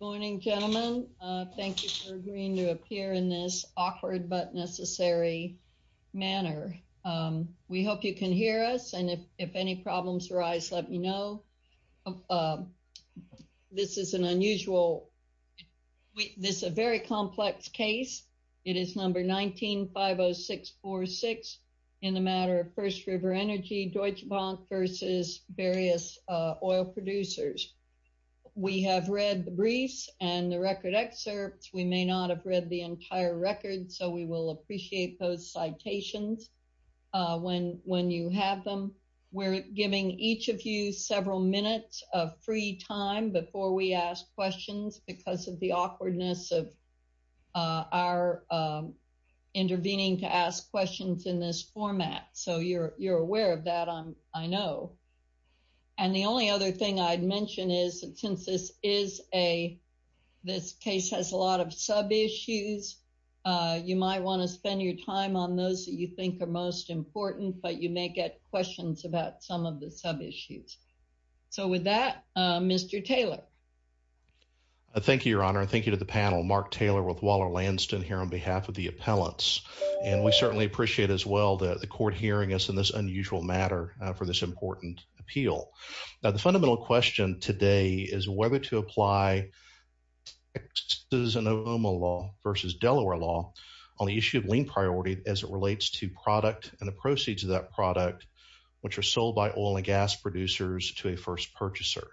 Good morning, gentlemen. Thank you for agreeing to appear in this awkward but necessary manner. We hope you can hear us, and if any problems arise, let me know. This is an unusual – this is a very complex case. It is number 1950646 in the matter of First River Energy, Deutsche Producers. We have read the briefs and the record excerpts. We may not have read the entire record, so we will appreciate those citations when you have them. We're giving each of you several minutes of free time before we ask questions because of the awkwardness of our intervening to ask questions in this format. So you're aware of that, I know. And the only other thing I'd mention is since this is a – this case has a lot of sub-issues, you might want to spend your time on those that you think are most important, but you may get questions about some of the sub-issues. So with that, Mr. Taylor. Thank you, Your Honor. Thank you to the panel. Mark Taylor with Waller-Lanston here on behalf of the appellants, and we certainly appreciate as well the court hearing us in this unusual matter for this important appeal. Now, the fundamental question today is whether to apply the Exxonoma law versus Delaware law on the issue of lien priority as it relates to product and the proceeds of that product, which are sold by oil and gas producers to a first purchaser.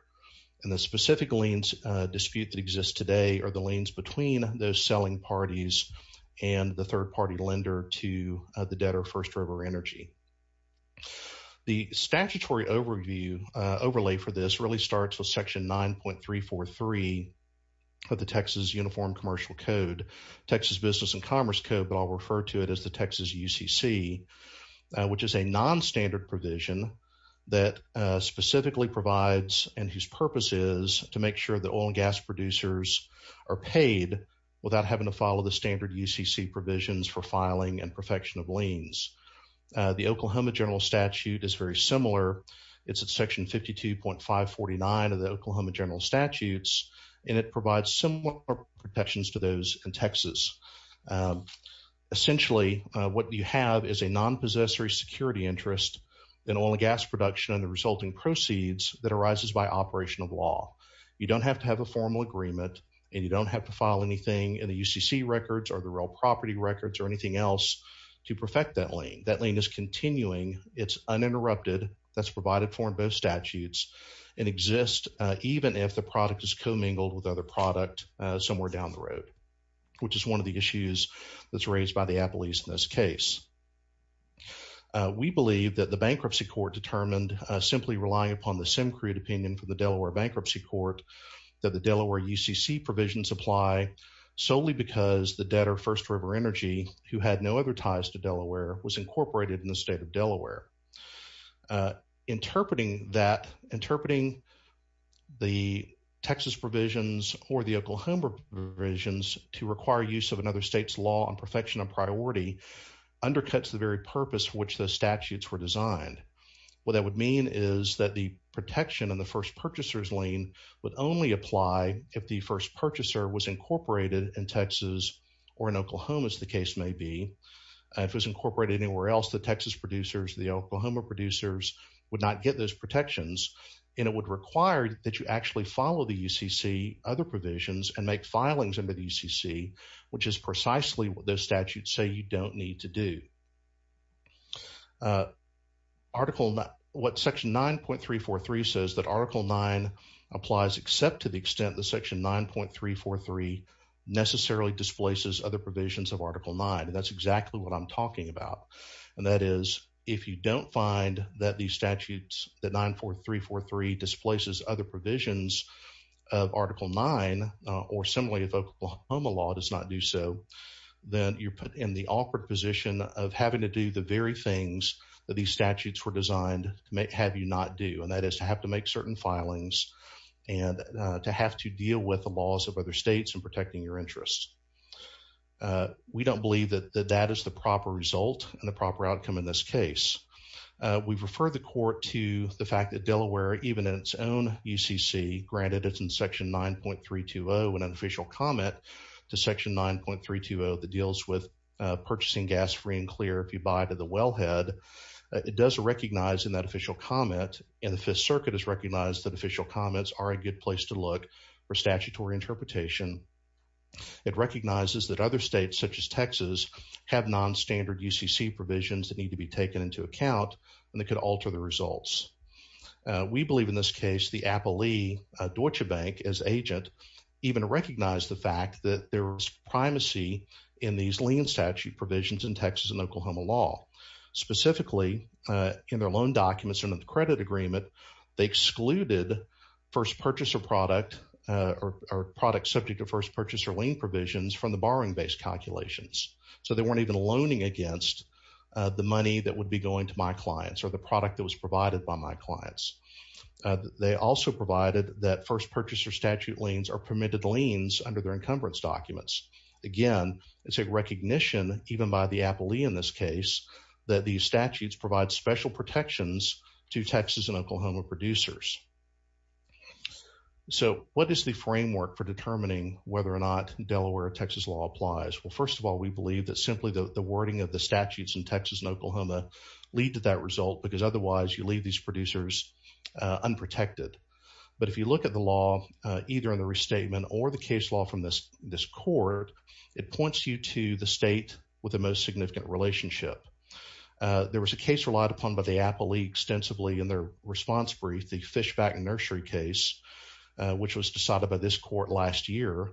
And the specific liens dispute that exists today are the liens between those selling parties and the third-party lender to the debtor First River Energy. The statutory overlay for this really starts with section 9.343 of the Texas Uniform Commercial Code, Texas Business and Commerce Code, but I'll refer to it as the Texas UCC, which is a non-standard provision that specifically provides and whose purpose is to make sure the oil and gas producers are paid without having to follow the standard UCC provisions for filing and perfection of liens. The Oklahoma General Statute is very similar. It's at section 52.549 of the Oklahoma General Statutes, and it provides similar protections to those in Texas. Essentially, what you have is a non-possessory security interest in oil and gas production and the resulting proceeds that arises by operation of law. You don't have to have a formal agreement, and you don't have to file anything in the UCC records or the real property records or anything else to perfect that lien. That lien is continuing. It's uninterrupted. That's provided for in both statutes and exists even if the product is commingled with other product somewhere down the road, which is one of the issues that's raised by the appellees in this case. We believe that the Bankruptcy Court determined simply relying upon the Simcrete opinion from the Delaware Bankruptcy Court that the Delaware UCC provisions apply solely because the debtor First River Energy, who had no other ties to Delaware, was incorporated in the state of Delaware. Interpreting that, interpreting the Texas provisions or the Oklahoma provisions to require use of another state's law on perfection and priority undercuts the very purpose for which the statutes were designed. What that would mean is that the protection in the first purchaser's lien would only apply if the first purchaser was incorporated in Texas or in Oklahoma, as the case may be. If it was incorporated anywhere else, the Texas producers, the Oklahoma producers would not get those protections, and it would require that you follow the UCC other provisions and make filings under the UCC, which is precisely what those statutes say you don't need to do. What section 9.343 says that Article 9 applies except to the extent that section 9.343 necessarily displaces other provisions of Article 9, and that's exactly what I'm talking about, and that is if you don't find that these statutes, that 9.4343 displaces other provisions of Article 9, or similarly, if Oklahoma law does not do so, then you're put in the awkward position of having to do the very things that these statutes were designed to have you not do, and that is to have to make certain filings and to have to deal with the laws of other states in protecting your interests. We don't believe that that is the proper result and the proper outcome in this case. We've referred the court to the fact that Delaware, even in its own UCC, granted it's in section 9.320 in an official comment to section 9.320 that deals with purchasing gas free and clear if you buy to the wellhead, it does recognize in that official comment, and the Fifth Circuit has recognized that official comments are a good place to look for statutory interpretation. It recognizes that other states, such as Texas, have non-standard UCC provisions that need to be taken into account and that could alter the case. We believe, in this case, the Appley Deutsche Bank, as agent, even recognized the fact that there was primacy in these lien statute provisions in Texas and Oklahoma law. Specifically, in their loan documents under the credit agreement, they excluded first purchaser product or products subject to first purchaser lien provisions from the borrowing-based calculations. So, they weren't even loaning against the money that would be going to my clients or the product that was provided by my clients. They also provided that first purchaser statute liens are permitted liens under their encumbrance documents. Again, it's a recognition, even by the Appley in this case, that these statutes provide special protections to Texas and Oklahoma producers. So, what is the framework for determining whether or not Delaware Texas law applies? Well, first of all, we believe that simply the wording of the statutes in Texas and you leave these producers unprotected. But if you look at the law, either in the restatement or the case law from this court, it points you to the state with the most significant relationship. There was a case relied upon by the Appley extensively in their response brief, the Fishback and Nursery case, which was decided by this court last year,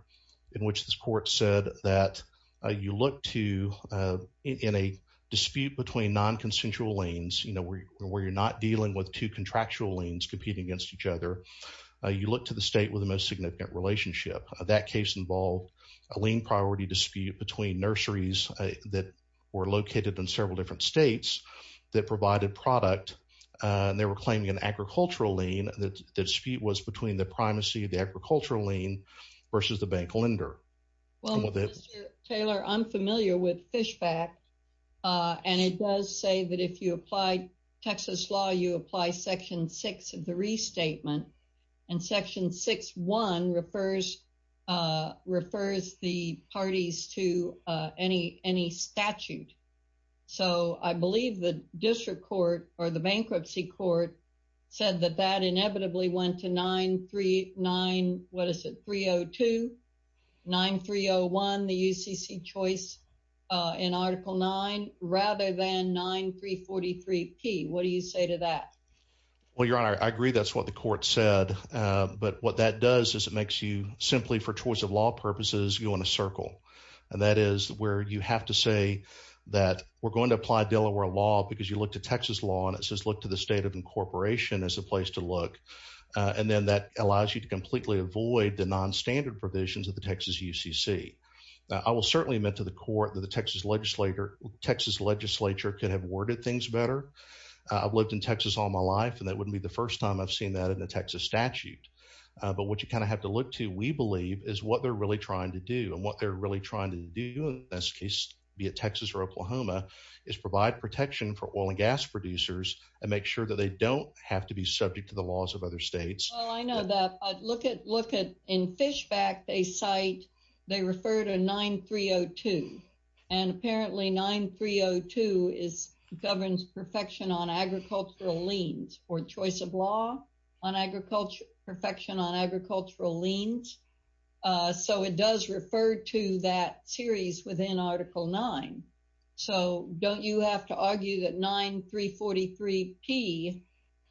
in which this court said that you look to, in a dispute between non-consensual liens, you know, where you're not dealing with two contractual liens competing against each other, you look to the state with the most significant relationship. That case involved a lien priority dispute between nurseries that were located in several different states that provided product, and they were claiming an agricultural lien. The dispute was between the primacy of the agricultural lien versus the bank lender. Well, Mr. Taylor, I'm familiar with Fishback, and it does say that if you apply Texas law, you apply section six of the restatement, and section six one refers the parties to any statute. So I believe the district court or the bankruptcy court said that that inevitably went to 939, what is it, 302, 9301, the UCC choice in article nine, rather than 9343P. What do you say to that? Well, Your Honor, I agree that's what the court said, but what that does is it makes you, simply for choice of law purposes, go in a circle, and that is where you have to say that we're going to apply Delaware law because you look to Texas law, and it says look to the as a place to look, and then that allows you to completely avoid the non-standard provisions of the Texas UCC. I will certainly admit to the court that the Texas legislature could have worded things better. I've lived in Texas all my life, and that wouldn't be the first time I've seen that in a Texas statute, but what you kind of have to look to, we believe, is what they're really trying to do, and what they're really trying to do in this case, be it Texas or Oklahoma, is provide protection for oil and gas producers and make sure that they don't have to be subject to the laws of other states. Well, I know that. Look at, in Fish Fact, they cite, they refer to 9302, and apparently 9302 governs perfection on agricultural liens for choice of law on agriculture, perfection on agricultural liens. So, it does refer to that series within Article 9. So, don't you have to argue that 9343P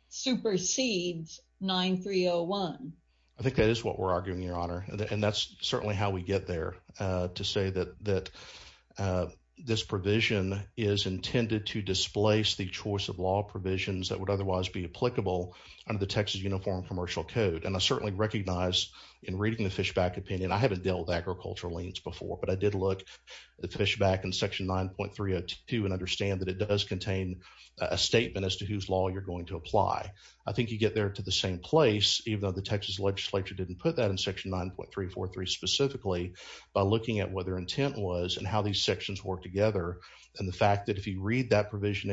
supersedes 9301? I think that is what we're arguing, Your Honor, and that's certainly how we get there, to say that this provision is intended to displace the choice of law provisions that would otherwise be applicable under the Texas Uniform Commercial Code, and I certainly recognize in reading the Fish Fact opinion, I haven't dealt with agricultural liens before, but I did look at Fish Fact in Section 9.302 and understand that it does contain a statement as to whose law you're going to apply. I think you get there to the same place, even though the Texas legislature didn't put that in Section 9.343 specifically, by looking at what their intent was and how these sections work together, and the fact that if you read that provision,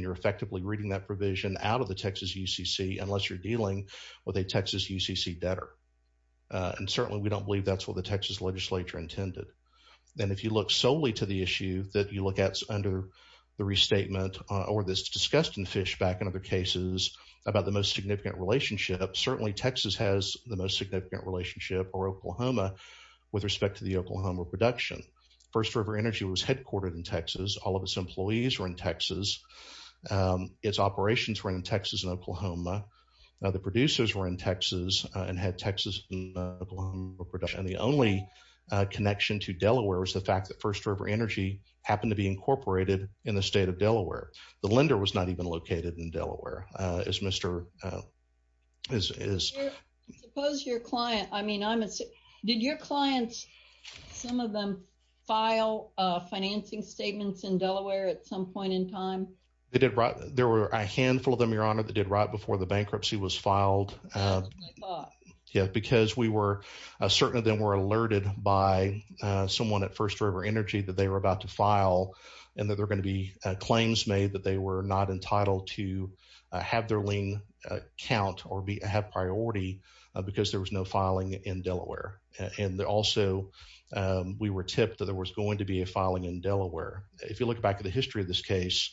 you're effectively reading that provision out of the Texas UCC, unless you're dealing with a Texas UCC debtor, and certainly we don't believe that's what the Texas legislature intended. Then, if you look solely to the issue that you look at under the restatement or this discussed in Fish Fact and other cases about the most significant relationship, certainly Texas has the most significant relationship or Oklahoma with respect to the Oklahoma production. First River Energy was headquartered in Texas. All of its employees were in Texas. Its operations were in Texas and Oklahoma. The producers were in Texas and had Texas and Oklahoma production. The only connection to Delaware was the fact that First River Energy happened to be incorporated in the state of Delaware. The lender was not even located in Delaware. Is Mr. I suppose your client, I mean, did your clients, some of them file financing statements in Delaware at some point in time? They did. There were a handful of them, Your Honor, that did right before the bankruptcy was filed. Yeah, because we were certainly then were alerted by someone at First River Energy that they were about to file and that they're going to be claims made that they were not count or have priority because there was no filing in Delaware. Also, we were tipped that there was going to be a filing in Delaware. If you look back at the history of this case,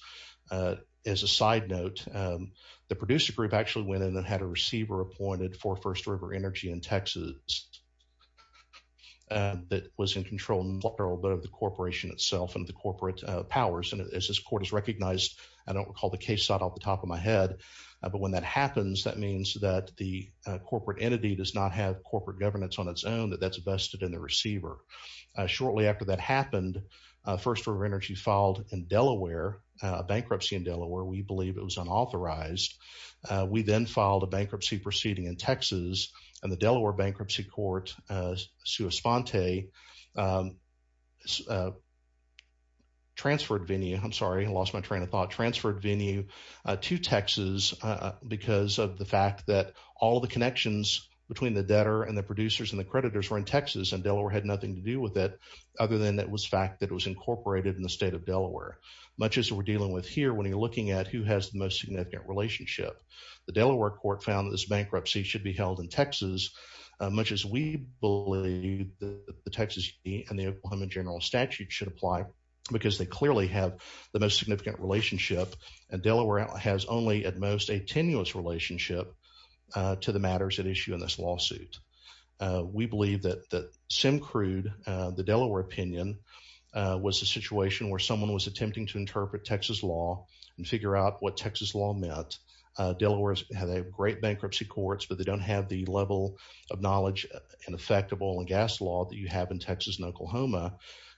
as a side note, the producer group actually went in and had a receiver appointed for First River Energy in Texas that was in control of the corporation itself and the corporate powers. As this court has recognized, I don't recall the case side off the top of my head, but when that happens, that means that the corporate entity does not have corporate governance on its own, that that's vested in the receiver. Shortly after that happened, First River Energy filed in Delaware, a bankruptcy in Delaware. We believe it was unauthorized. We then filed a bankruptcy proceeding in Texas and the Delaware Bankruptcy Court, Sue Esponte, I'm sorry, I lost my train of thought, transferred venue to Texas because of the fact that all the connections between the debtor and the producers and the creditors were in Texas and Delaware had nothing to do with it, other than it was fact that it was incorporated in the state of Delaware. Much as we're dealing with here, when you're looking at who has the most significant relationship, the Delaware Court found that this bankruptcy should be held in Texas, much as we believe that the Texas and the Oklahoma General Statute should apply, because they clearly have the most significant relationship and Delaware has only at most a tenuous relationship to the matters at issue in this lawsuit. We believe that that Sim Crude, the Delaware opinion, was a situation where someone was attempting to interpret Texas law and figure out what Texas law meant. Delaware's had a great bankruptcy courts, but they don't have the level of knowledge and effect of oil and gas law that you have in Texas and Oklahoma,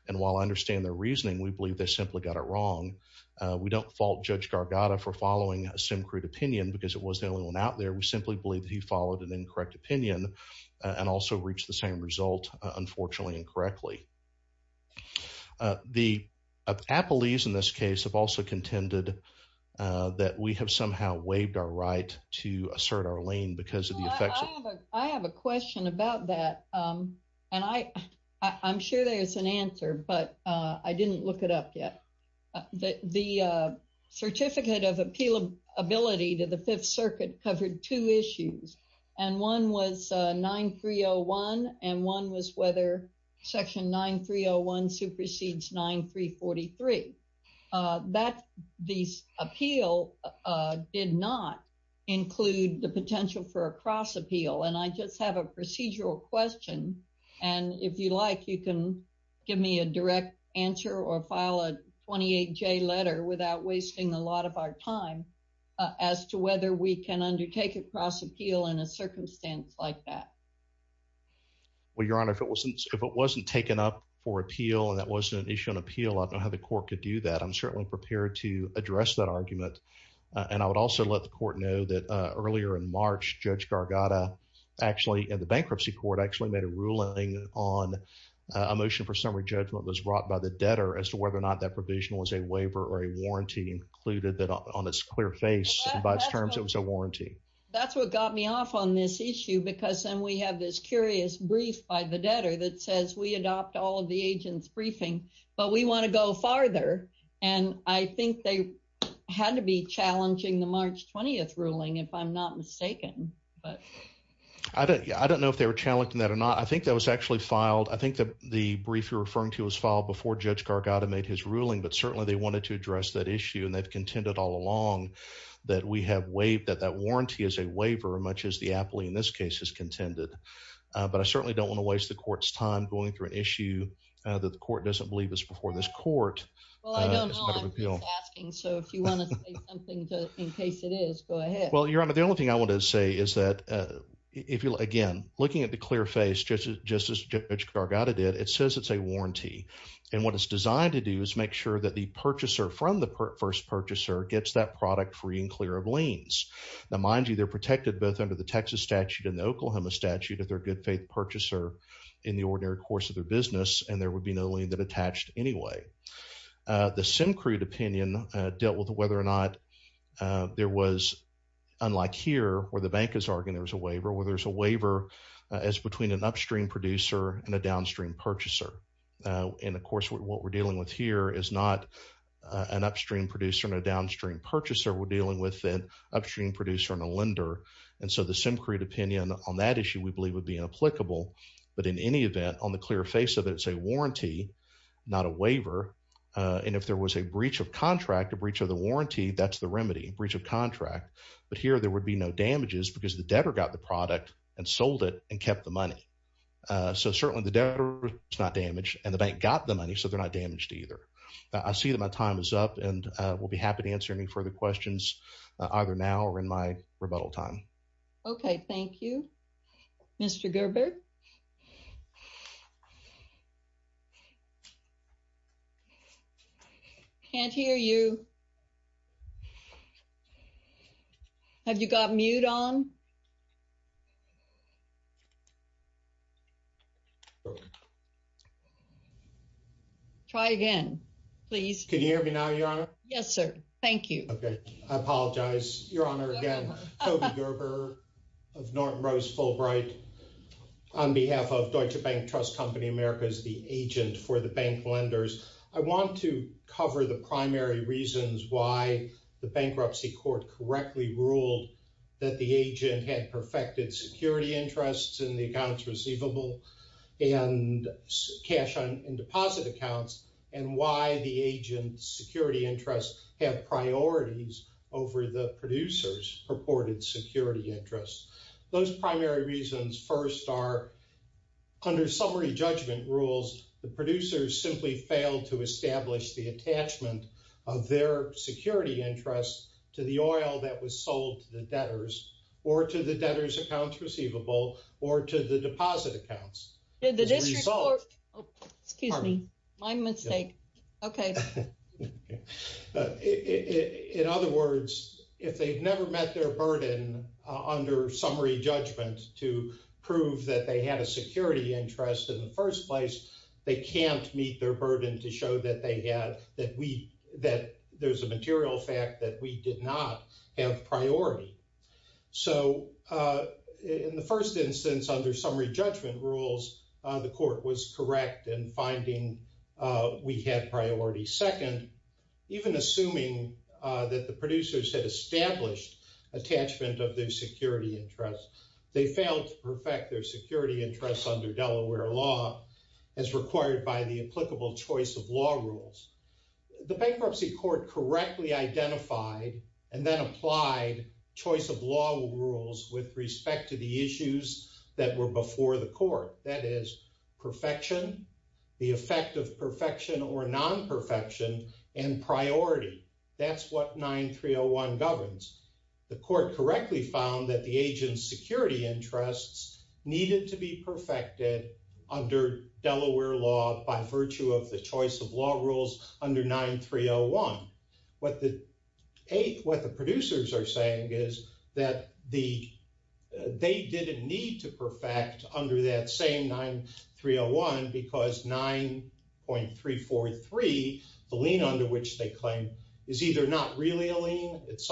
and while I understand their reasoning, we believe they simply got it wrong. We don't fault Judge Gargatta for following a Sim Crude opinion because it was the only one out there. We simply believe that he followed an incorrect opinion and also reached the same result, unfortunately, incorrectly. The Applees, in this case, have also contended that we have waived our right to assert our lane because of the effects. I have a question about that, and I'm sure there's an answer, but I didn't look it up yet. The certificate of appealability to the Fifth Circuit covered two issues, and one was 9301 and one was whether section 9301 supersedes 9343. The appeal did not include the potential for a cross appeal, and I just have a procedural question, and if you like, you can give me a direct answer or file a 28-J letter without wasting a lot of our time as to whether we can undertake a cross appeal in a circumstance like that. Well, Your Honor, if it wasn't taken up for appeal and that wasn't an issue on appeal, I don't know how the court could do that. I'm certainly prepared to address that argument, and I would also let the court know that earlier in March, Judge Gargatta actually, in the bankruptcy court, actually made a ruling on a motion for summary judgment that was brought by the debtor as to whether or not that provision was a waiver or a warranty, included that on its clear face, and by its terms, it was a warranty. That's what got me off on this issue, because then we have this curious brief by the debtor that says we adopt all of the agent's briefing, but we want to go farther, and I think they had to be challenging the March 20th ruling, if I'm not mistaken. I don't know if they were challenging that or not. I think that was actually filed. I think that the brief you're referring to was filed before Judge Gargatta made his ruling, but certainly they wanted to address that issue, and they've contended all along that we have warranty as a waiver, much as the appellee in this case has contended, but I certainly don't want to waste the court's time going through an issue that the court doesn't believe is before this court. Well, I don't know. I'm just asking, so if you want to say something in case it is, go ahead. Well, Your Honor, the only thing I want to say is that if you, again, looking at the clear face, just as Judge Gargatta did, it says it's a warranty, and what it's designed to do is make sure that the purchaser from the first purchaser gets that product free and clear of liens. Now, mind you, they're protected both under the Texas statute and the Oklahoma statute if they're a good faith purchaser in the ordinary course of their business, and there would be no lien that attached anyway. The SimCrude opinion dealt with whether or not there was, unlike here where the bank is arguing there was a waiver, where there's a waiver as between an upstream producer and a downstream purchaser, and of course, what we're dealing with here is not an upstream producer and a downstream purchaser. We're dealing with an upstream producer and a lender, and so the SimCrude opinion on that issue we believe would be applicable, but in any event, on the clear face of it, it's a warranty, not a waiver, and if there was a breach of contract, a breach of the warranty, that's the remedy, breach of contract, but here there would be no damages because the debtor got the product and sold it and kept the money, so certainly the debtor is not damaged, and the bank got the money, so they're not damaged either. I see that my time is up, and we'll be happy to answer any further questions either now or in my rebuttal time. Okay, thank you. Mr. Gerber? Can't hear you. Have you got mute on? Try again, please. Can you hear me now, Your Honor? Yes, sir. Thank you. Okay, I apologize. Your Honor, again, Toby Gerber of Norton Rose Fulbright, on behalf of Deutsche Bank Trust Company Americas, the agent for the bank lenders, I want to cover the primary reasons why the bankruptcy court correctly ruled that the agent had perfected security interests in the accounts receivable and cash and deposit accounts, and why the agent's security interests have priorities over the producer's purported security interests. Those primary reasons first are, under summary judgment rules, the producers simply failed to establish the attachment of their security interests to the oil that was sold to the debtors or to the debtors' accounts receivable or to the deposit accounts. Did the district court... Excuse me, my mistake. Okay. In other words, if they've never met their burden under summary judgment to prove that they had a security interest in the first place, they can't meet their burden to show that there's a material fact that we did not have priority. So, in the first instance, under summary judgment rules, the court was correct in finding we had priority second, even assuming that the producers had established attachment of their security interests. They failed to perfect their security interests under Delaware law as required by the applicable choice of law rules. The bankruptcy court correctly identified and then applied choice of law rules with respect to the issues that were before the perfection, the effect of perfection or non-perfection, and priority. That's what 9301 governs. The court correctly found that the agent's security interests needed to be perfected under Delaware law by virtue of the choice of law rules under 9301. What the producers are saying is that they didn't need to perfect under that same 9301 because 9.343, the lien under which they claim, is either not really a lien, it's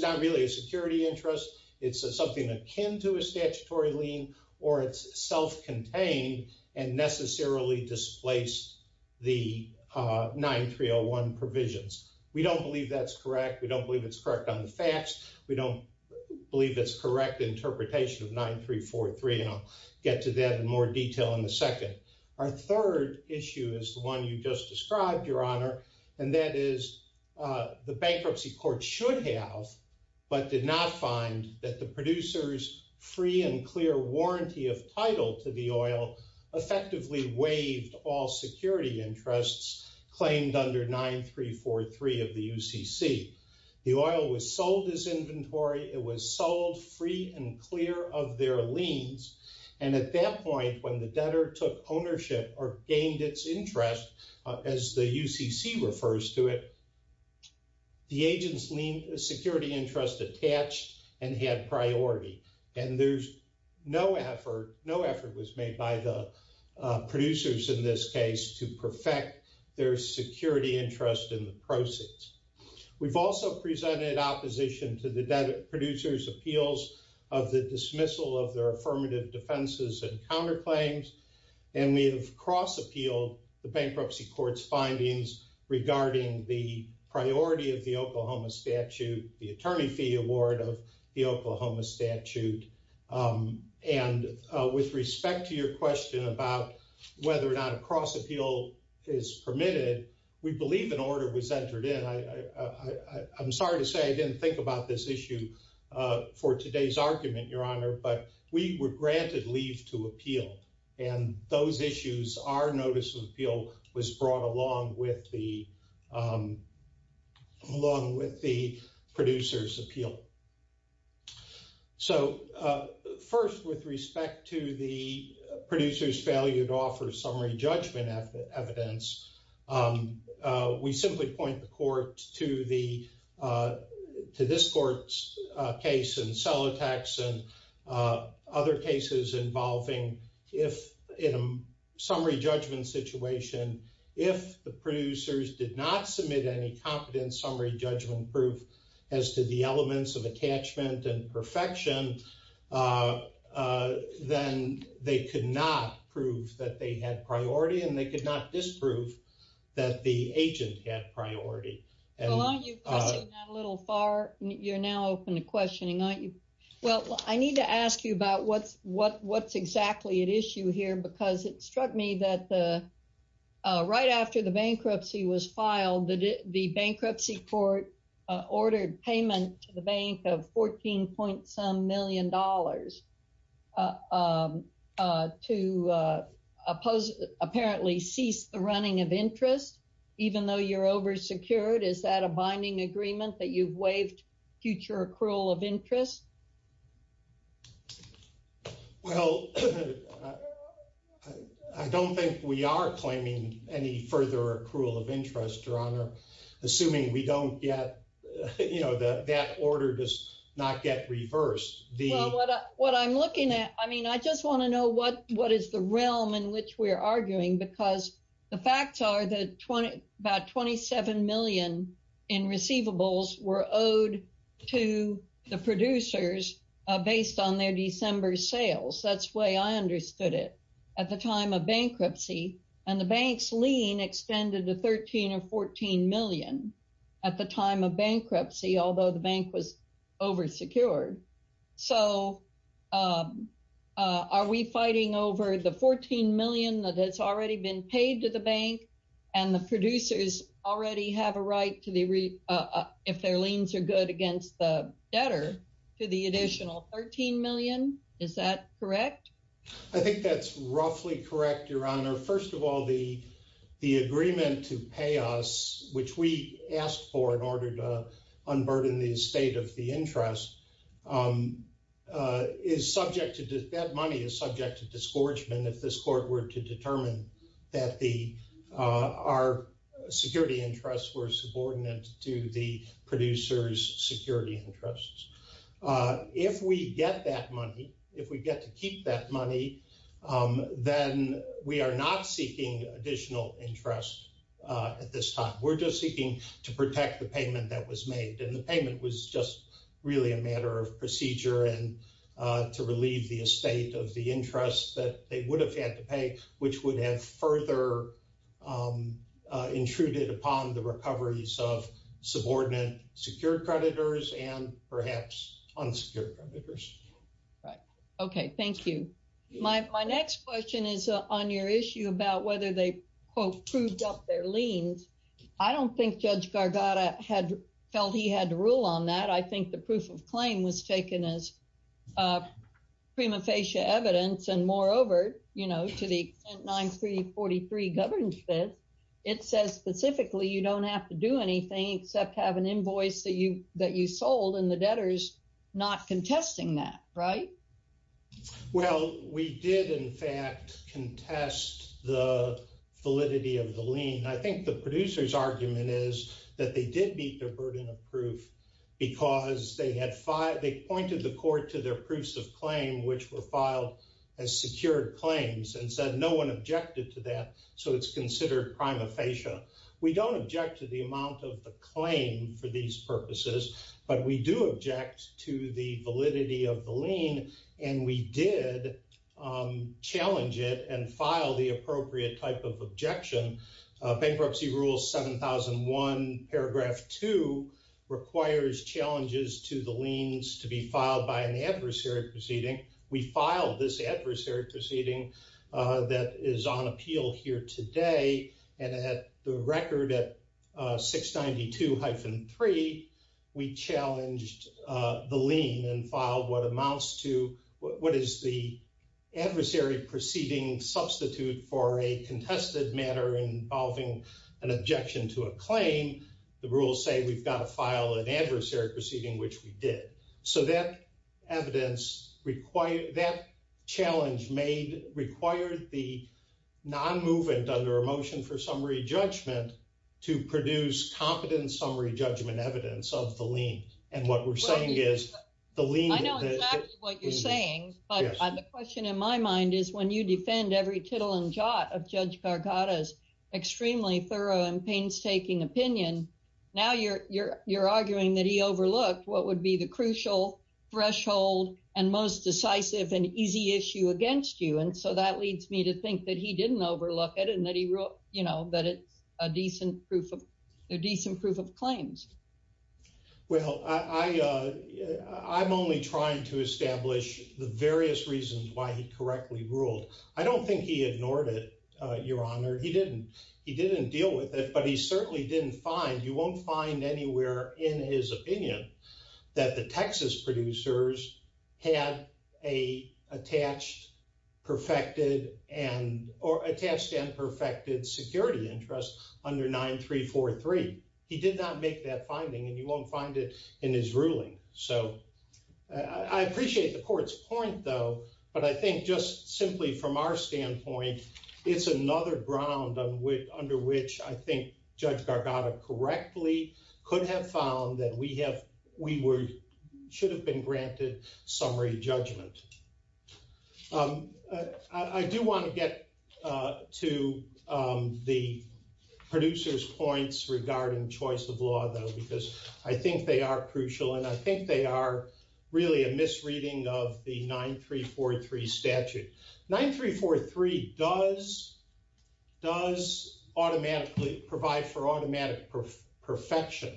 not really a security interest, it's something akin to a statutory lien, or it's self-contained and necessarily displaced the 9301 provisions. We don't believe that's correct. We don't believe it's correct on the facts. We don't believe it's correct interpretation of 9343, and I'll get to that in more detail in the second. Our third issue is the one you just described, your honor, and that is the bankruptcy court should have but did not find that the producers' free and clear warranty of title to the oil effectively waived all security interests claimed under 9343 of the UCC. The oil was sold as inventory. It was sold free and clear of their liens, and at that point when the debtor took ownership or gained its interest, as the UCC refers to it, the agent's security interest attached and had priority, and no effort was made by the producers in this case to perfect their security interest in the proceeds. We've also presented opposition to the debtor producer's appeals of the dismissal of their affirmative defenses and counterclaims, and we have cross appealed the bankruptcy court's findings regarding the priority of the Oklahoma statute, the attorney fee award of the Oklahoma statute, and with respect to your question about whether or not a cross appeal is permitted, we believe an order was entered in. I'm sorry to say I didn't think about this issue for today's argument, your honor, but we were granted leave to appeal, and those issues, our notice of appeal was brought along with the producers' appeal. So first, with respect to the producers' failure to offer summary judgment evidence, we simply point the court to this court's case in Celotex and other cases involving in a summary judgment situation, if the producers did not submit any competent summary judgment proof as to the elements of attachment and perfection, then they could not prove that they had priority, and they could not disprove that the agent had priority. Well, aren't you crossing that a little far? You're now open to questioning, aren't you? Well, I need to ask you about what's exactly at issue here, because it struck me that right after the bankruptcy was filed, the bankruptcy court ordered payment to the bank of $14.some million to apparently cease the running of interest, even though you're oversecured. Is that a binding agreement that you've waived future accrual of interest? Well, I don't think we are claiming any further accrual of interest, your honor, assuming we don't get, you know, that order does not get reversed. What I'm looking at, I mean, I just want to know what is the realm in which we're arguing, because the facts are that about $27 million in receivables were owed to the producers based on their December sales. That's the way I understood it at the time of bankruptcy, and the bank's lien extended to $13 or $14 million at the time of bankruptcy, although the bank was oversecured. So, are we fighting over the $14 million that has already been paid to the bank, and the producers already have a right, if their liens are good against the debtor, to the additional $13 million? Is that correct? I think that's roughly correct, your honor. First of all, the agreement to pay us, which we asked for in order to unburden the estate of the interest, is subject to, that money is subject to disgorgement if this court were to determine that our security interests were subordinate to the producer's security interests. If we get that money, if we get to keep that money, then we are not seeking additional interest at this time. We're just seeking to protect the payment that was made, and the payment was just really a matter of procedure, and to relieve the estate of the interest that they would have had to pay, which would have further intruded upon the recoveries of subordinate secured creditors, and perhaps unsecured creditors. Right. Okay. Thank you. My next question is on your issue about whether they, quote, proved up their liens. I don't think Judge Gargatta felt he had to rule on that. I think the proof of claim was taken as prima facie evidence, and moreover, you know, to the extent 9343 governs this, it says specifically you don't have to do anything except have an invoice that you sold, and the debtor's not contesting that, right? Well, we did, in fact, contest the validity of the lien. I think the producer's argument is that they did meet their burden of proof because they had, they pointed the court to their proofs of claim, which were filed as secured claims, and said no one objected to that, so it's considered prima facie. We don't object to the amount of the claim for these purposes, but we do object to the validity of the lien, and we did challenge it and file the appropriate type of objection. Bankruptcy rule 7001 paragraph 2 requires challenges to the liens to be filed by an adversary proceeding that is on appeal here today, and at the record at 692-3, we challenged the lien and filed what amounts to, what is the adversary proceeding substitute for a contested matter involving an objection to a claim. The rules say we've got to file an adversary proceeding, which we did, so that evidence required, that challenge made, required the non-movement under a motion for summary judgment to produce competent summary judgment evidence of the lien, and what we're saying is the lien. I know exactly what you're saying, but the question in my mind is when you defend every tittle and jot of Judge Gargatta's extremely thorough and painstaking opinion, now you're, you're, you're arguing that he overlooked what would be the crucial threshold and most decisive and easy issue against you, and so that leads me to think that he didn't overlook it and that he wrote, you know, that it's a decent proof of, a decent proof of claims. Well, I, I, I'm only trying to establish the various reasons why he correctly ruled. I don't think he ignored it, Your Honor. He didn't, he didn't deal with it, but he certainly didn't find, you won't find anywhere in his opinion that the Texas producers had a attached, perfected, and, or attached and perfected security interest under 9343. He did not make that finding, and you won't find it in his ruling, so I appreciate the court's point, though, but I think just simply from our standpoint, it's another ground on which, under which I think Judge Gargatta correctly could have found that we have, we were, should have been granted summary judgment. I do want to get to the producers' points regarding choice of law, though, because I think they are crucial and I think 9343 does, does automatically provide for automatic perfection,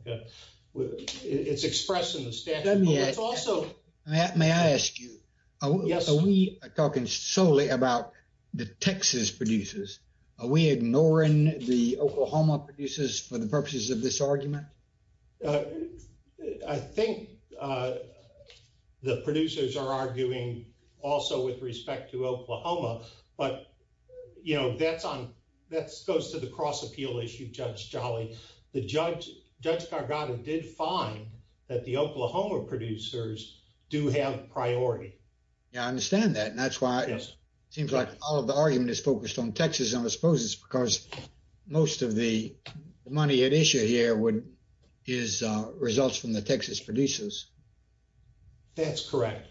okay? It's expressed in the statute. Let me ask, may I ask you, are we talking solely about the Texas producers? Are we ignoring the Oklahoma producers for the purposes of this argument? I think the producers are arguing also with respect to Oklahoma, but, you know, that's on, that's, goes to the cross-appeal issue, Judge Jolly. The judge, Judge Gargatta did find that the Oklahoma producers do have priority. Yeah, I understand that, and that's why it seems like all of the argument is focused on Texas, and I suppose it's because most of the money at issue here would, is results from the Texas producers. That's correct.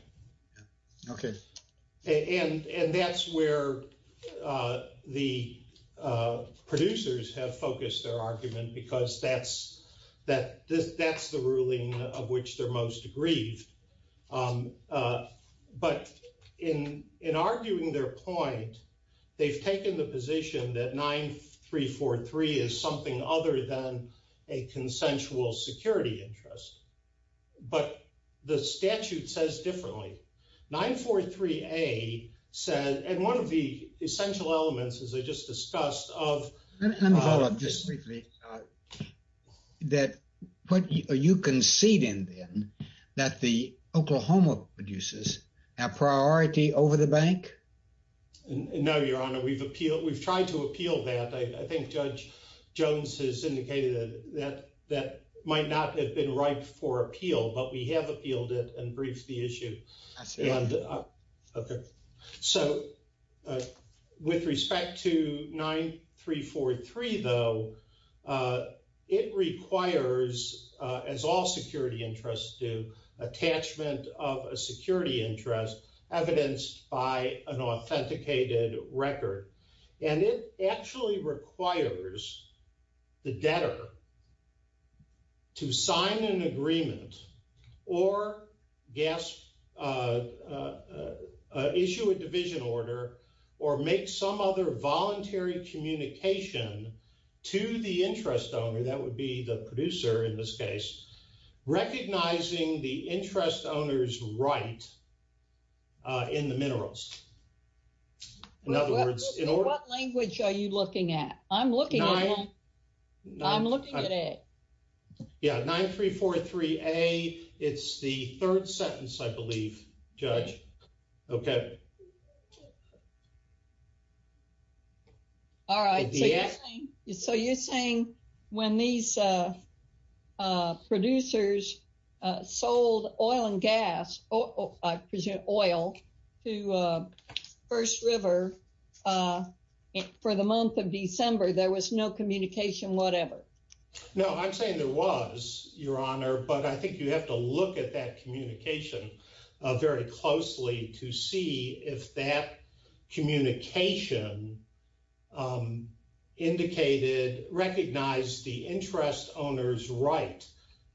Okay. And that's where the producers have focused their argument because that's, that's the ruling of which they're most aggrieved. But in arguing their point, they've taken the position that 9343 is something other than a consensual security interest, but the statute says differently. 943A said, and one of the essential elements, as I just discussed, of- Let me follow up just briefly, that, are you conceding then that the Oklahoma producers have priority over the bank? No, Your Honor, we've appealed, I think Judge Jones has indicated that that might not have been ripe for appeal, but we have appealed it and briefed the issue. Okay. So, with respect to 9343, though, it requires, as all security interests do, attachment of a security interest evidenced by an authenticated record. And it actually requires the debtor to sign an agreement or issue a division order or make some other voluntary communication to the interest owner, that would be the producer in this case, recognizing the interest owner's right in the minerals. In other words, in order- What language are you looking at? I'm looking at it. Yeah, 9343A, it's the third sentence, I believe, Judge. Okay. All right. So, you're saying when these producers sold oil and gas, I presume oil, to First River for the month of December, there was no communication whatever? No, I'm saying there was, Your Honor, but I think you have to look at that communication very closely to see if that communication indicated, recognized the interest owner's right,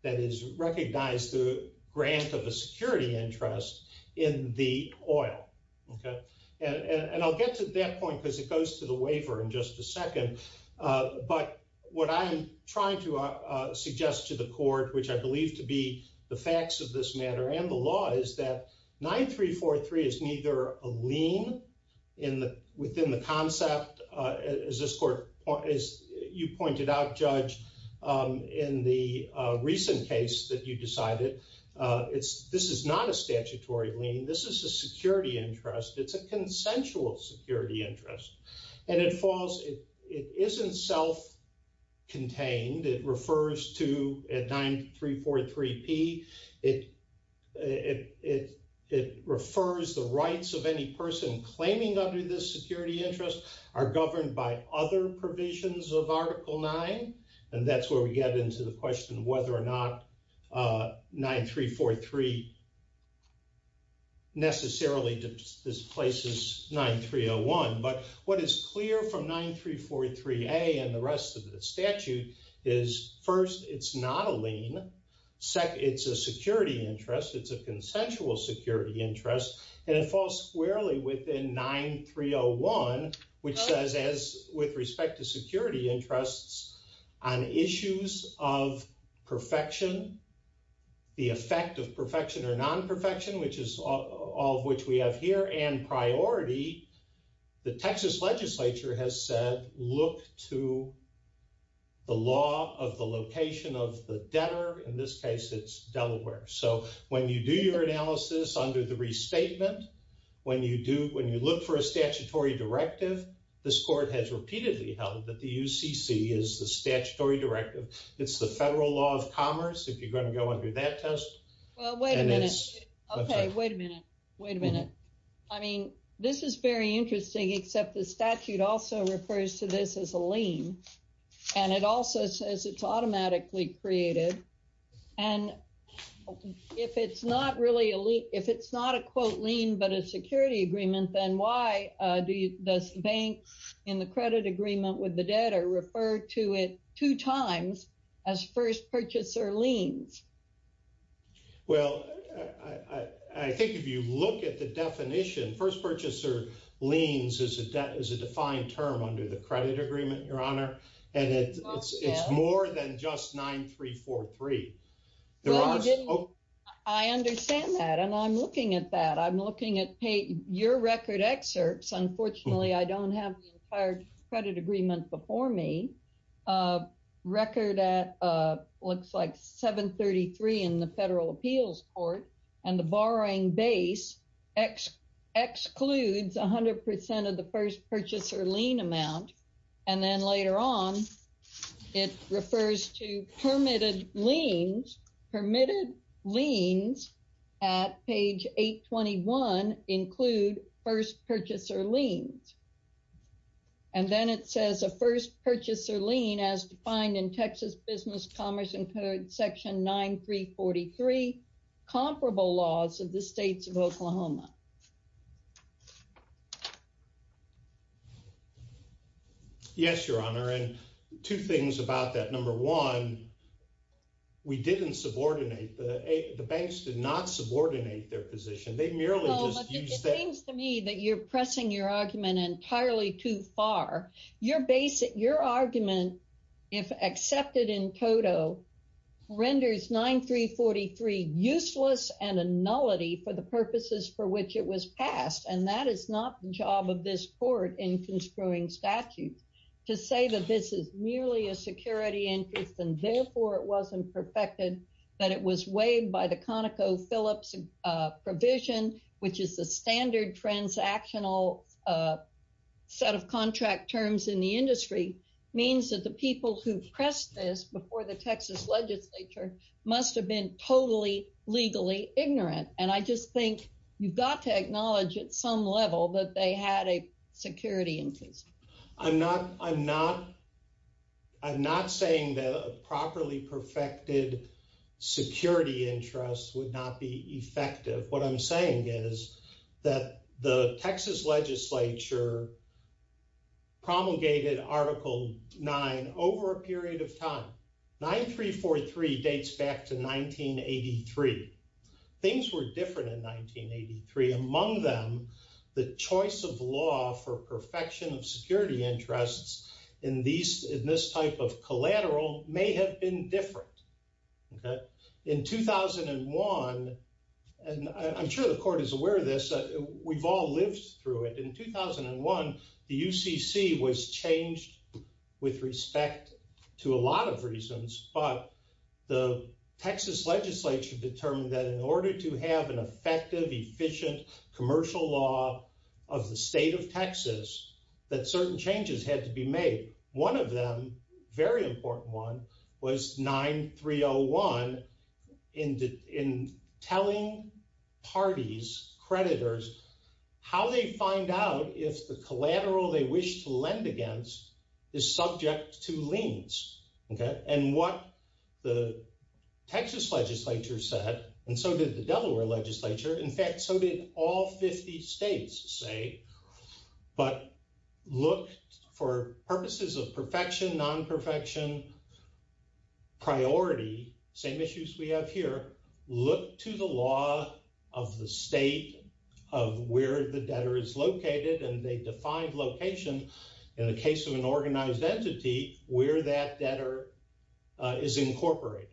that is, recognized the grant of a security interest in the oil. Okay. And I'll get to that point because it goes to the waiver in just a second. But what I'm trying to suggest to the is that 9343 is neither a lien within the concept, as you pointed out, Judge, in the recent case that you decided. This is not a statutory lien. This is a security interest. It's a consensual security interest. And it falls, it isn't self-contained. It refers to, at 9343P, it refers the rights of any person claiming under this security interest are governed by other provisions of Article 9. And that's where we get into the question of whether or not 9343 necessarily displaces 9301. But what is clear from 9343A and the rest of the statute is, first, it's not a lien. Second, it's a security interest. It's a consensual security interest. And it falls squarely within 9301, which says, as with respect to security interests on issues of perfection, the effect of perfection or non-perfection, which is all of which we have here, and priority, the Texas legislature has said, look to the law of the location of the debtor. In this case, it's Delaware. So when you do your analysis under the restatement, when you look for a statutory directive, this court has repeatedly held that the UCC is the statutory directive. It's the Federal Law of Commerce, if you're going to do that test. Well, wait a minute. Okay, wait a minute. Wait a minute. I mean, this is very interesting, except the statute also refers to this as a lien. And it also says it's automatically created. And if it's not really a lien, if it's not a, quote, lien, but a security agreement, then why does the bank in the credit agreement with the debtor refer to it two times as first purchaser liens? Well, I think if you look at the definition, first purchaser liens is a defined term under the credit agreement, Your Honor. And it's more than just 9343. I understand that. And I'm looking at that. I'm looking at your record excerpts. Unfortunately, I don't have the entire credit agreement before me. Record at looks like 733 in the Federal Appeals Court. And the borrowing base excludes 100% of the first purchaser lien amount. And then later on, it refers to permitted liens. Permitted liens at page 821 include first purchaser liens. And then it says a first purchaser lien as defined in Texas Business Commerce and Code Section 9343, comparable laws of the states of Oklahoma. Yes, Your Honor. And two things about that. Number one, we didn't subordinate. The banks did not subordinate their position. They merely just used that. It seems to me that you're pressing your argument entirely too far. Your argument, if accepted in toto, renders 9343 useless and a nullity for the purposes for which it was passed. And that is not the job of this court in construing statutes. To say that this is merely a security interest and therefore it wasn't perfected, that it was weighed by the standard transactional set of contract terms in the industry, means that the people who pressed this before the Texas legislature must have been totally legally ignorant. And I just think you've got to acknowledge at some level that they had a security interest. I'm not saying that a properly perfected security interest would not be effective. What I'm saying is that the Texas legislature promulgated Article 9 over a period of time. 9343 dates back to 1983. Things were different in 1983. Among them, the choice of law for perfection of security interests in this type of collateral may have been different. In 2001, and I'm sure the court is aware of this, we've all lived through it. In 2001, the UCC was changed with respect to a lot of reasons, but the Texas legislature determined that in order to have an effective, efficient commercial law of the state of Texas, that certain changes had to be made. One of them, very important one, was 9301 in telling parties, creditors, how they find out if the collateral they wish to lend against is subject to liens. And what the Texas legislature said, and so did the Delaware legislature, in fact, so did all 50 states say, but look for purposes of perfection, non-perfection priority, same issues we have here, look to the law of the state of where the debtor is located, and they defined location in the case of an organized entity where that debtor is incorporated.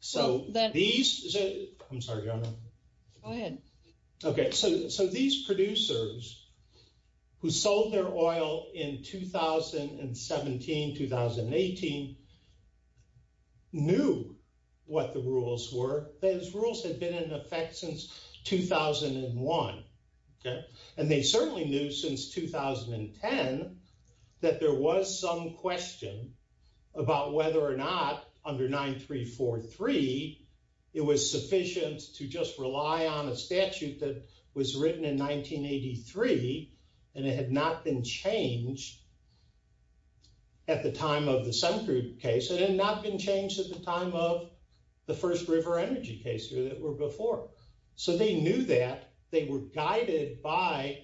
So these producers who sold their oil in 2017, 2018, knew what the rules were. Those rules had been in effect since 2001, and they certainly knew since 2010 that there was some question about whether or not under 9343, it was sufficient to just rely on a statute that was written in 1983, and it had not been changed at the time of the Sunkroot case, it had not been changed at the time of the first River Energy case that were before. So they knew that, they were guided by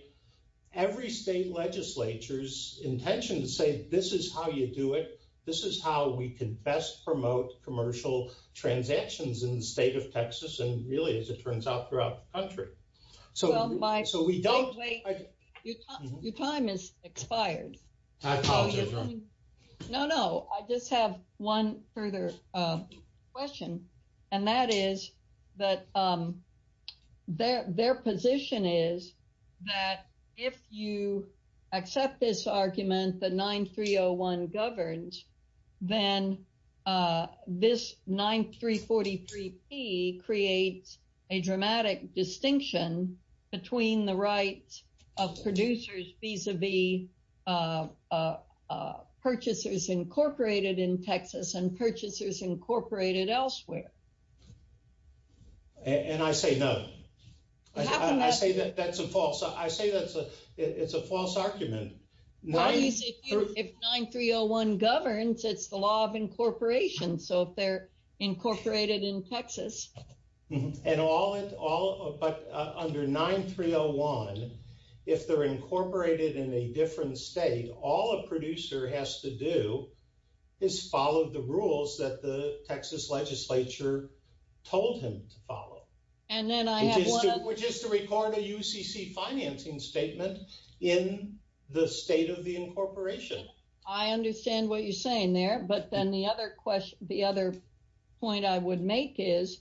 every state legislature's intention to say, this is how you do it, this is how we can best promote commercial transactions in the state of Texas, and really, as it turns out, throughout the country. So we don't... Your time has expired. I apologize. No, no, I just have one further question, and that is that their position is that if you accept this argument that 9301 governs, then this 9343P creates a dramatic distinction between the rights of and purchasers incorporated elsewhere. And I say no. I say that's a false, I say that's a, it's a false argument. If 9301 governs, it's the law of incorporation, so if they're incorporated in Texas. And all, but under 9301, if they're incorporated in a different state, all a producer has to do is follow the rules that the Texas legislature told him to follow. And then I have one... Which is to record a UCC financing statement in the state of the incorporation. I understand what you're saying there, but then the other question, the other point I would make is,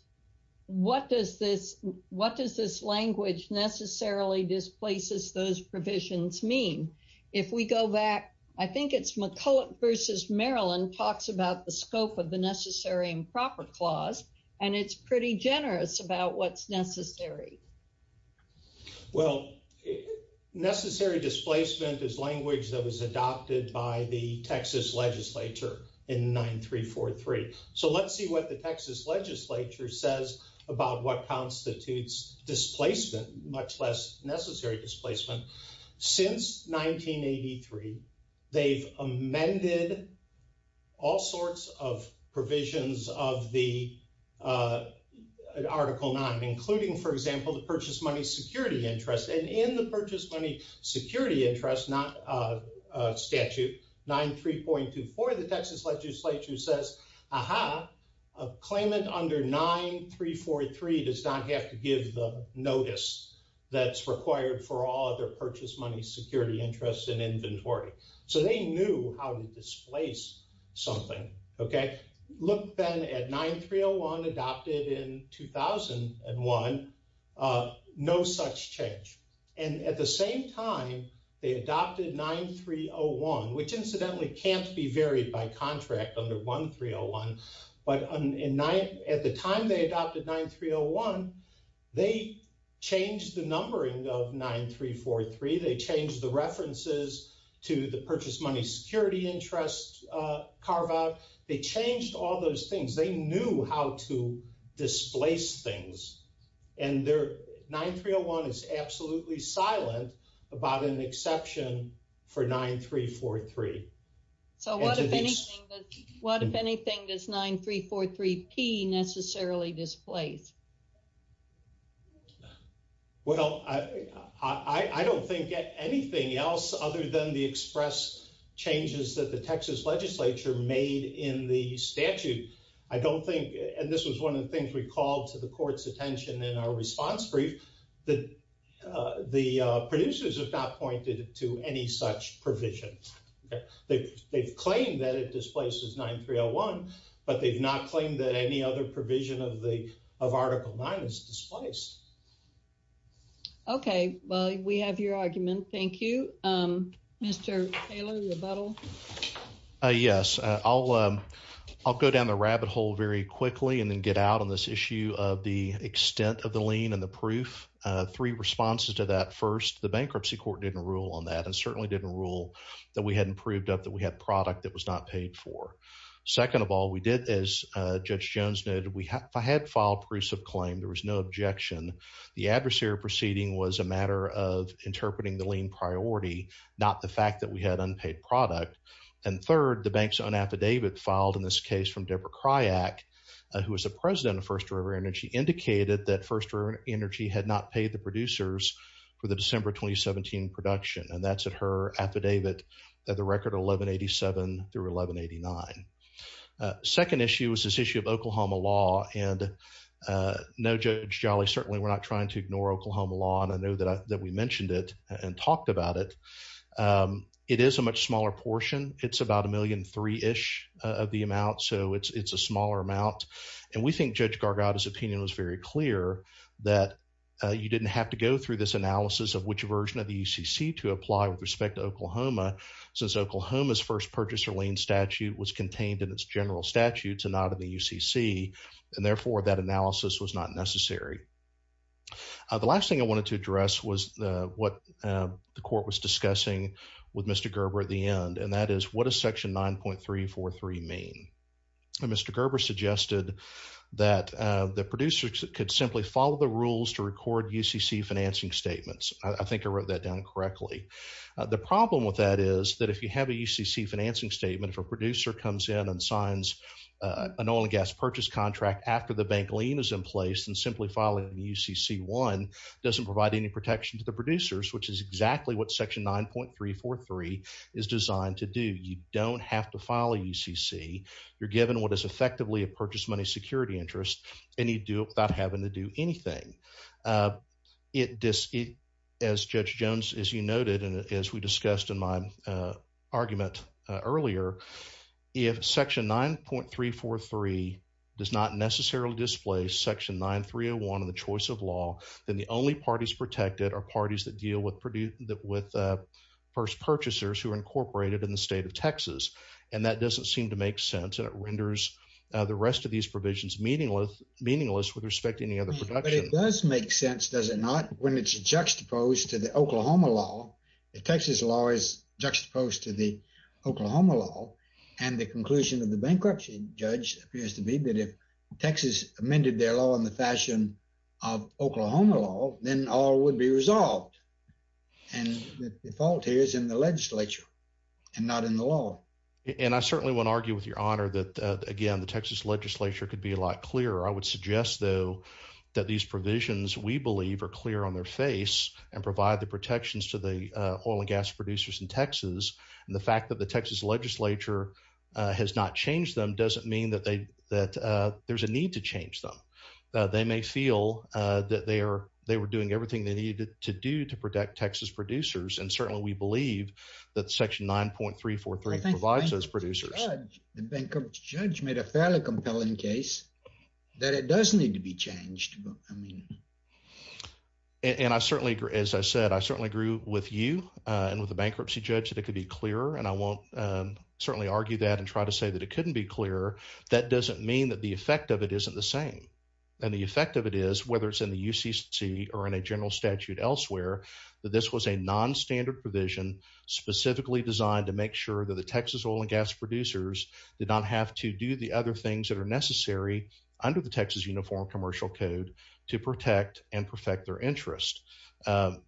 what does this, what does this language necessarily displaces those provisions mean? If we go back, I think it's McCulloch versus Maryland talks about the scope of the necessary improper clause, and it's pretty generous about what's necessary. Well, necessary displacement is language that was adopted by the Texas legislature in 9343. So let's see what the about what constitutes displacement, much less necessary displacement. Since 1983, they've amended all sorts of provisions of the Article 9, including, for example, the purchase money security interest. And in the purchase money security interest, not statute 93.24, the Texas 9343 does not have to give the notice that's required for all other purchase money security interests and inventory. So they knew how to displace something, okay? Look then at 9301 adopted in 2001, no such change. And at the same time, they adopted 9301, which incidentally can't be varied by contract under 1301. But at the time they adopted 9301, they changed the numbering of 9343. They changed the references to the purchase money security interest carve out. They changed all those things. They knew how to displace things. And 9301 is absolutely silent about an exception for 9343. So what, if anything, does 9343p necessarily displace? Well, I don't think anything else other than the express changes that the Texas legislature made in the statute. I don't think, and this was one of the things we called to the court's that the producers have not pointed to any such provision. They've claimed that it displaces 9301, but they've not claimed that any other provision of the of article 9 is displaced. Okay, well, we have your argument. Thank you. Mr. Taylor, rebuttal. Yes, I'll go down the rabbit hole very quickly and then get out on this issue of the extent of the lien and the proof. Three responses to that. First, the bankruptcy court didn't rule on that and certainly didn't rule that we hadn't proved up that we had product that was not paid for. Second of all, we did, as Judge Jones noted, we had filed proofs of claim. There was no objection. The adversary proceeding was a matter of interpreting the lien priority, not the fact that we had unpaid product. And third, the bank's own affidavit filed in this case from Deborah Cryack, who was the president of First River Energy, indicated that First River Energy had not paid the producers for the December 2017 production, and that's at her affidavit at the record 1187 through 1189. Second issue was this issue of Oklahoma law, and no, Judge Jolly, certainly we're not trying to ignore Oklahoma law, and I know that we mentioned it and talked about it. It is a much smaller portion. It's about a million three-ish of the amount, so it's a smaller amount, and we think Judge Gargatta's opinion was very clear that you didn't have to go through this analysis of which version of the UCC to apply with respect to Oklahoma, since Oklahoma's first purchaser lien statute was contained in its general statutes and not in the UCC, and therefore that analysis was not necessary. The last thing I wanted to address was what the court was discussing with Mr. Gerber at the end, and that is what does section 9.343 mean? Mr. Gerber suggested that the producers could simply follow the rules to record UCC financing statements. I think I wrote that down correctly. The problem with that is that if you have a UCC financing statement, if a producer comes in and signs an oil and gas purchase contract after the bank lien is in place and simply filing UCC1 doesn't provide any protection to the producers, exactly what section 9.343 is designed to do. You don't have to file a UCC. You're given what is effectively a purchase money security interest, and you do it without having to do anything. As Judge Jones, as you noted, and as we discussed in my argument earlier, if section 9.343 does not necessarily display section 9.301 in the choice of law, then the only parties protected are parties that deal with first purchasers who are incorporated in the state of Texas, and that doesn't seem to make sense, and it renders the rest of these provisions meaningless with respect to any other production. But it does make sense, does it not, when it's juxtaposed to the Oklahoma law. The Texas law is juxtaposed to the Oklahoma law, and the conclusion of the bankruptcy judge appears to be that if Texas amended their law in the fashion of Oklahoma law, then all would be resolved, and the fault here is in the legislature and not in the law. And I certainly wouldn't argue with your honor that, again, the Texas legislature could be a lot clearer. I would suggest, though, that these provisions, we believe, are clear on their face and provide the protections to the oil and gas producers in Texas, and the fact that the Texas legislature has not changed them doesn't mean that they, that there's a need to change them. They may feel that they are, they were doing everything they needed to do to protect Texas producers, and certainly we believe that section 9.343 provides those producers. The bankruptcy judge made a fairly compelling case that it does need to be changed. And I certainly, as I said, I certainly agree with you and with the bankruptcy judge that it could be clearer, and I won't certainly argue that and try to say it couldn't be clearer. That doesn't mean that the effect of it isn't the same, and the effect of it is, whether it's in the UCC or in a general statute elsewhere, that this was a non-standard provision specifically designed to make sure that the Texas oil and gas producers did not have to do the other things that are necessary under the Texas Uniform Commercial Code to protect and perfect their interest. I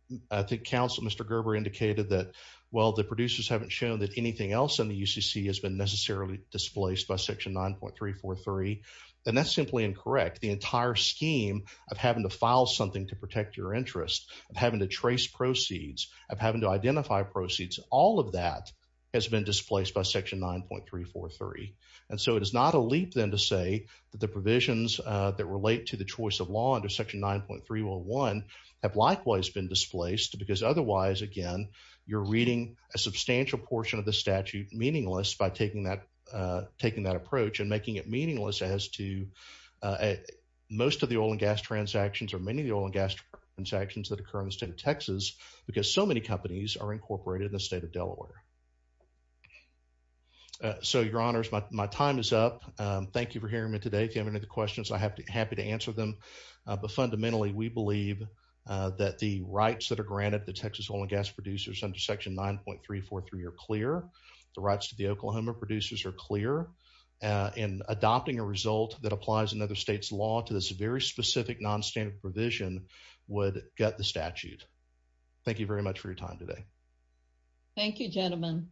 think counsel Mr. Gerber indicated that, well, the producers haven't shown that anything else in the UCC has been necessarily displaced by section 9.343, then that's simply incorrect. The entire scheme of having to file something to protect your interest, of having to trace proceeds, of having to identify proceeds, all of that has been displaced by section 9.343. And so it is not a leap then to say that the provisions that relate to the choice of law under section 9.301 have likewise been displaced because otherwise, again, you're reading a statute meaningless by taking that approach and making it meaningless as to most of the oil and gas transactions or many of the oil and gas transactions that occur in the state of Texas because so many companies are incorporated in the state of Delaware. So, your honors, my time is up. Thank you for hearing me today. If you have any other questions, I'd be happy to answer them. But fundamentally, we believe that the rights that are granted to the Oklahoma producers are clear and adopting a result that applies another state's law to this very specific non-standard provision would gut the statute. Thank you very much for your time today. Thank you, gentlemen.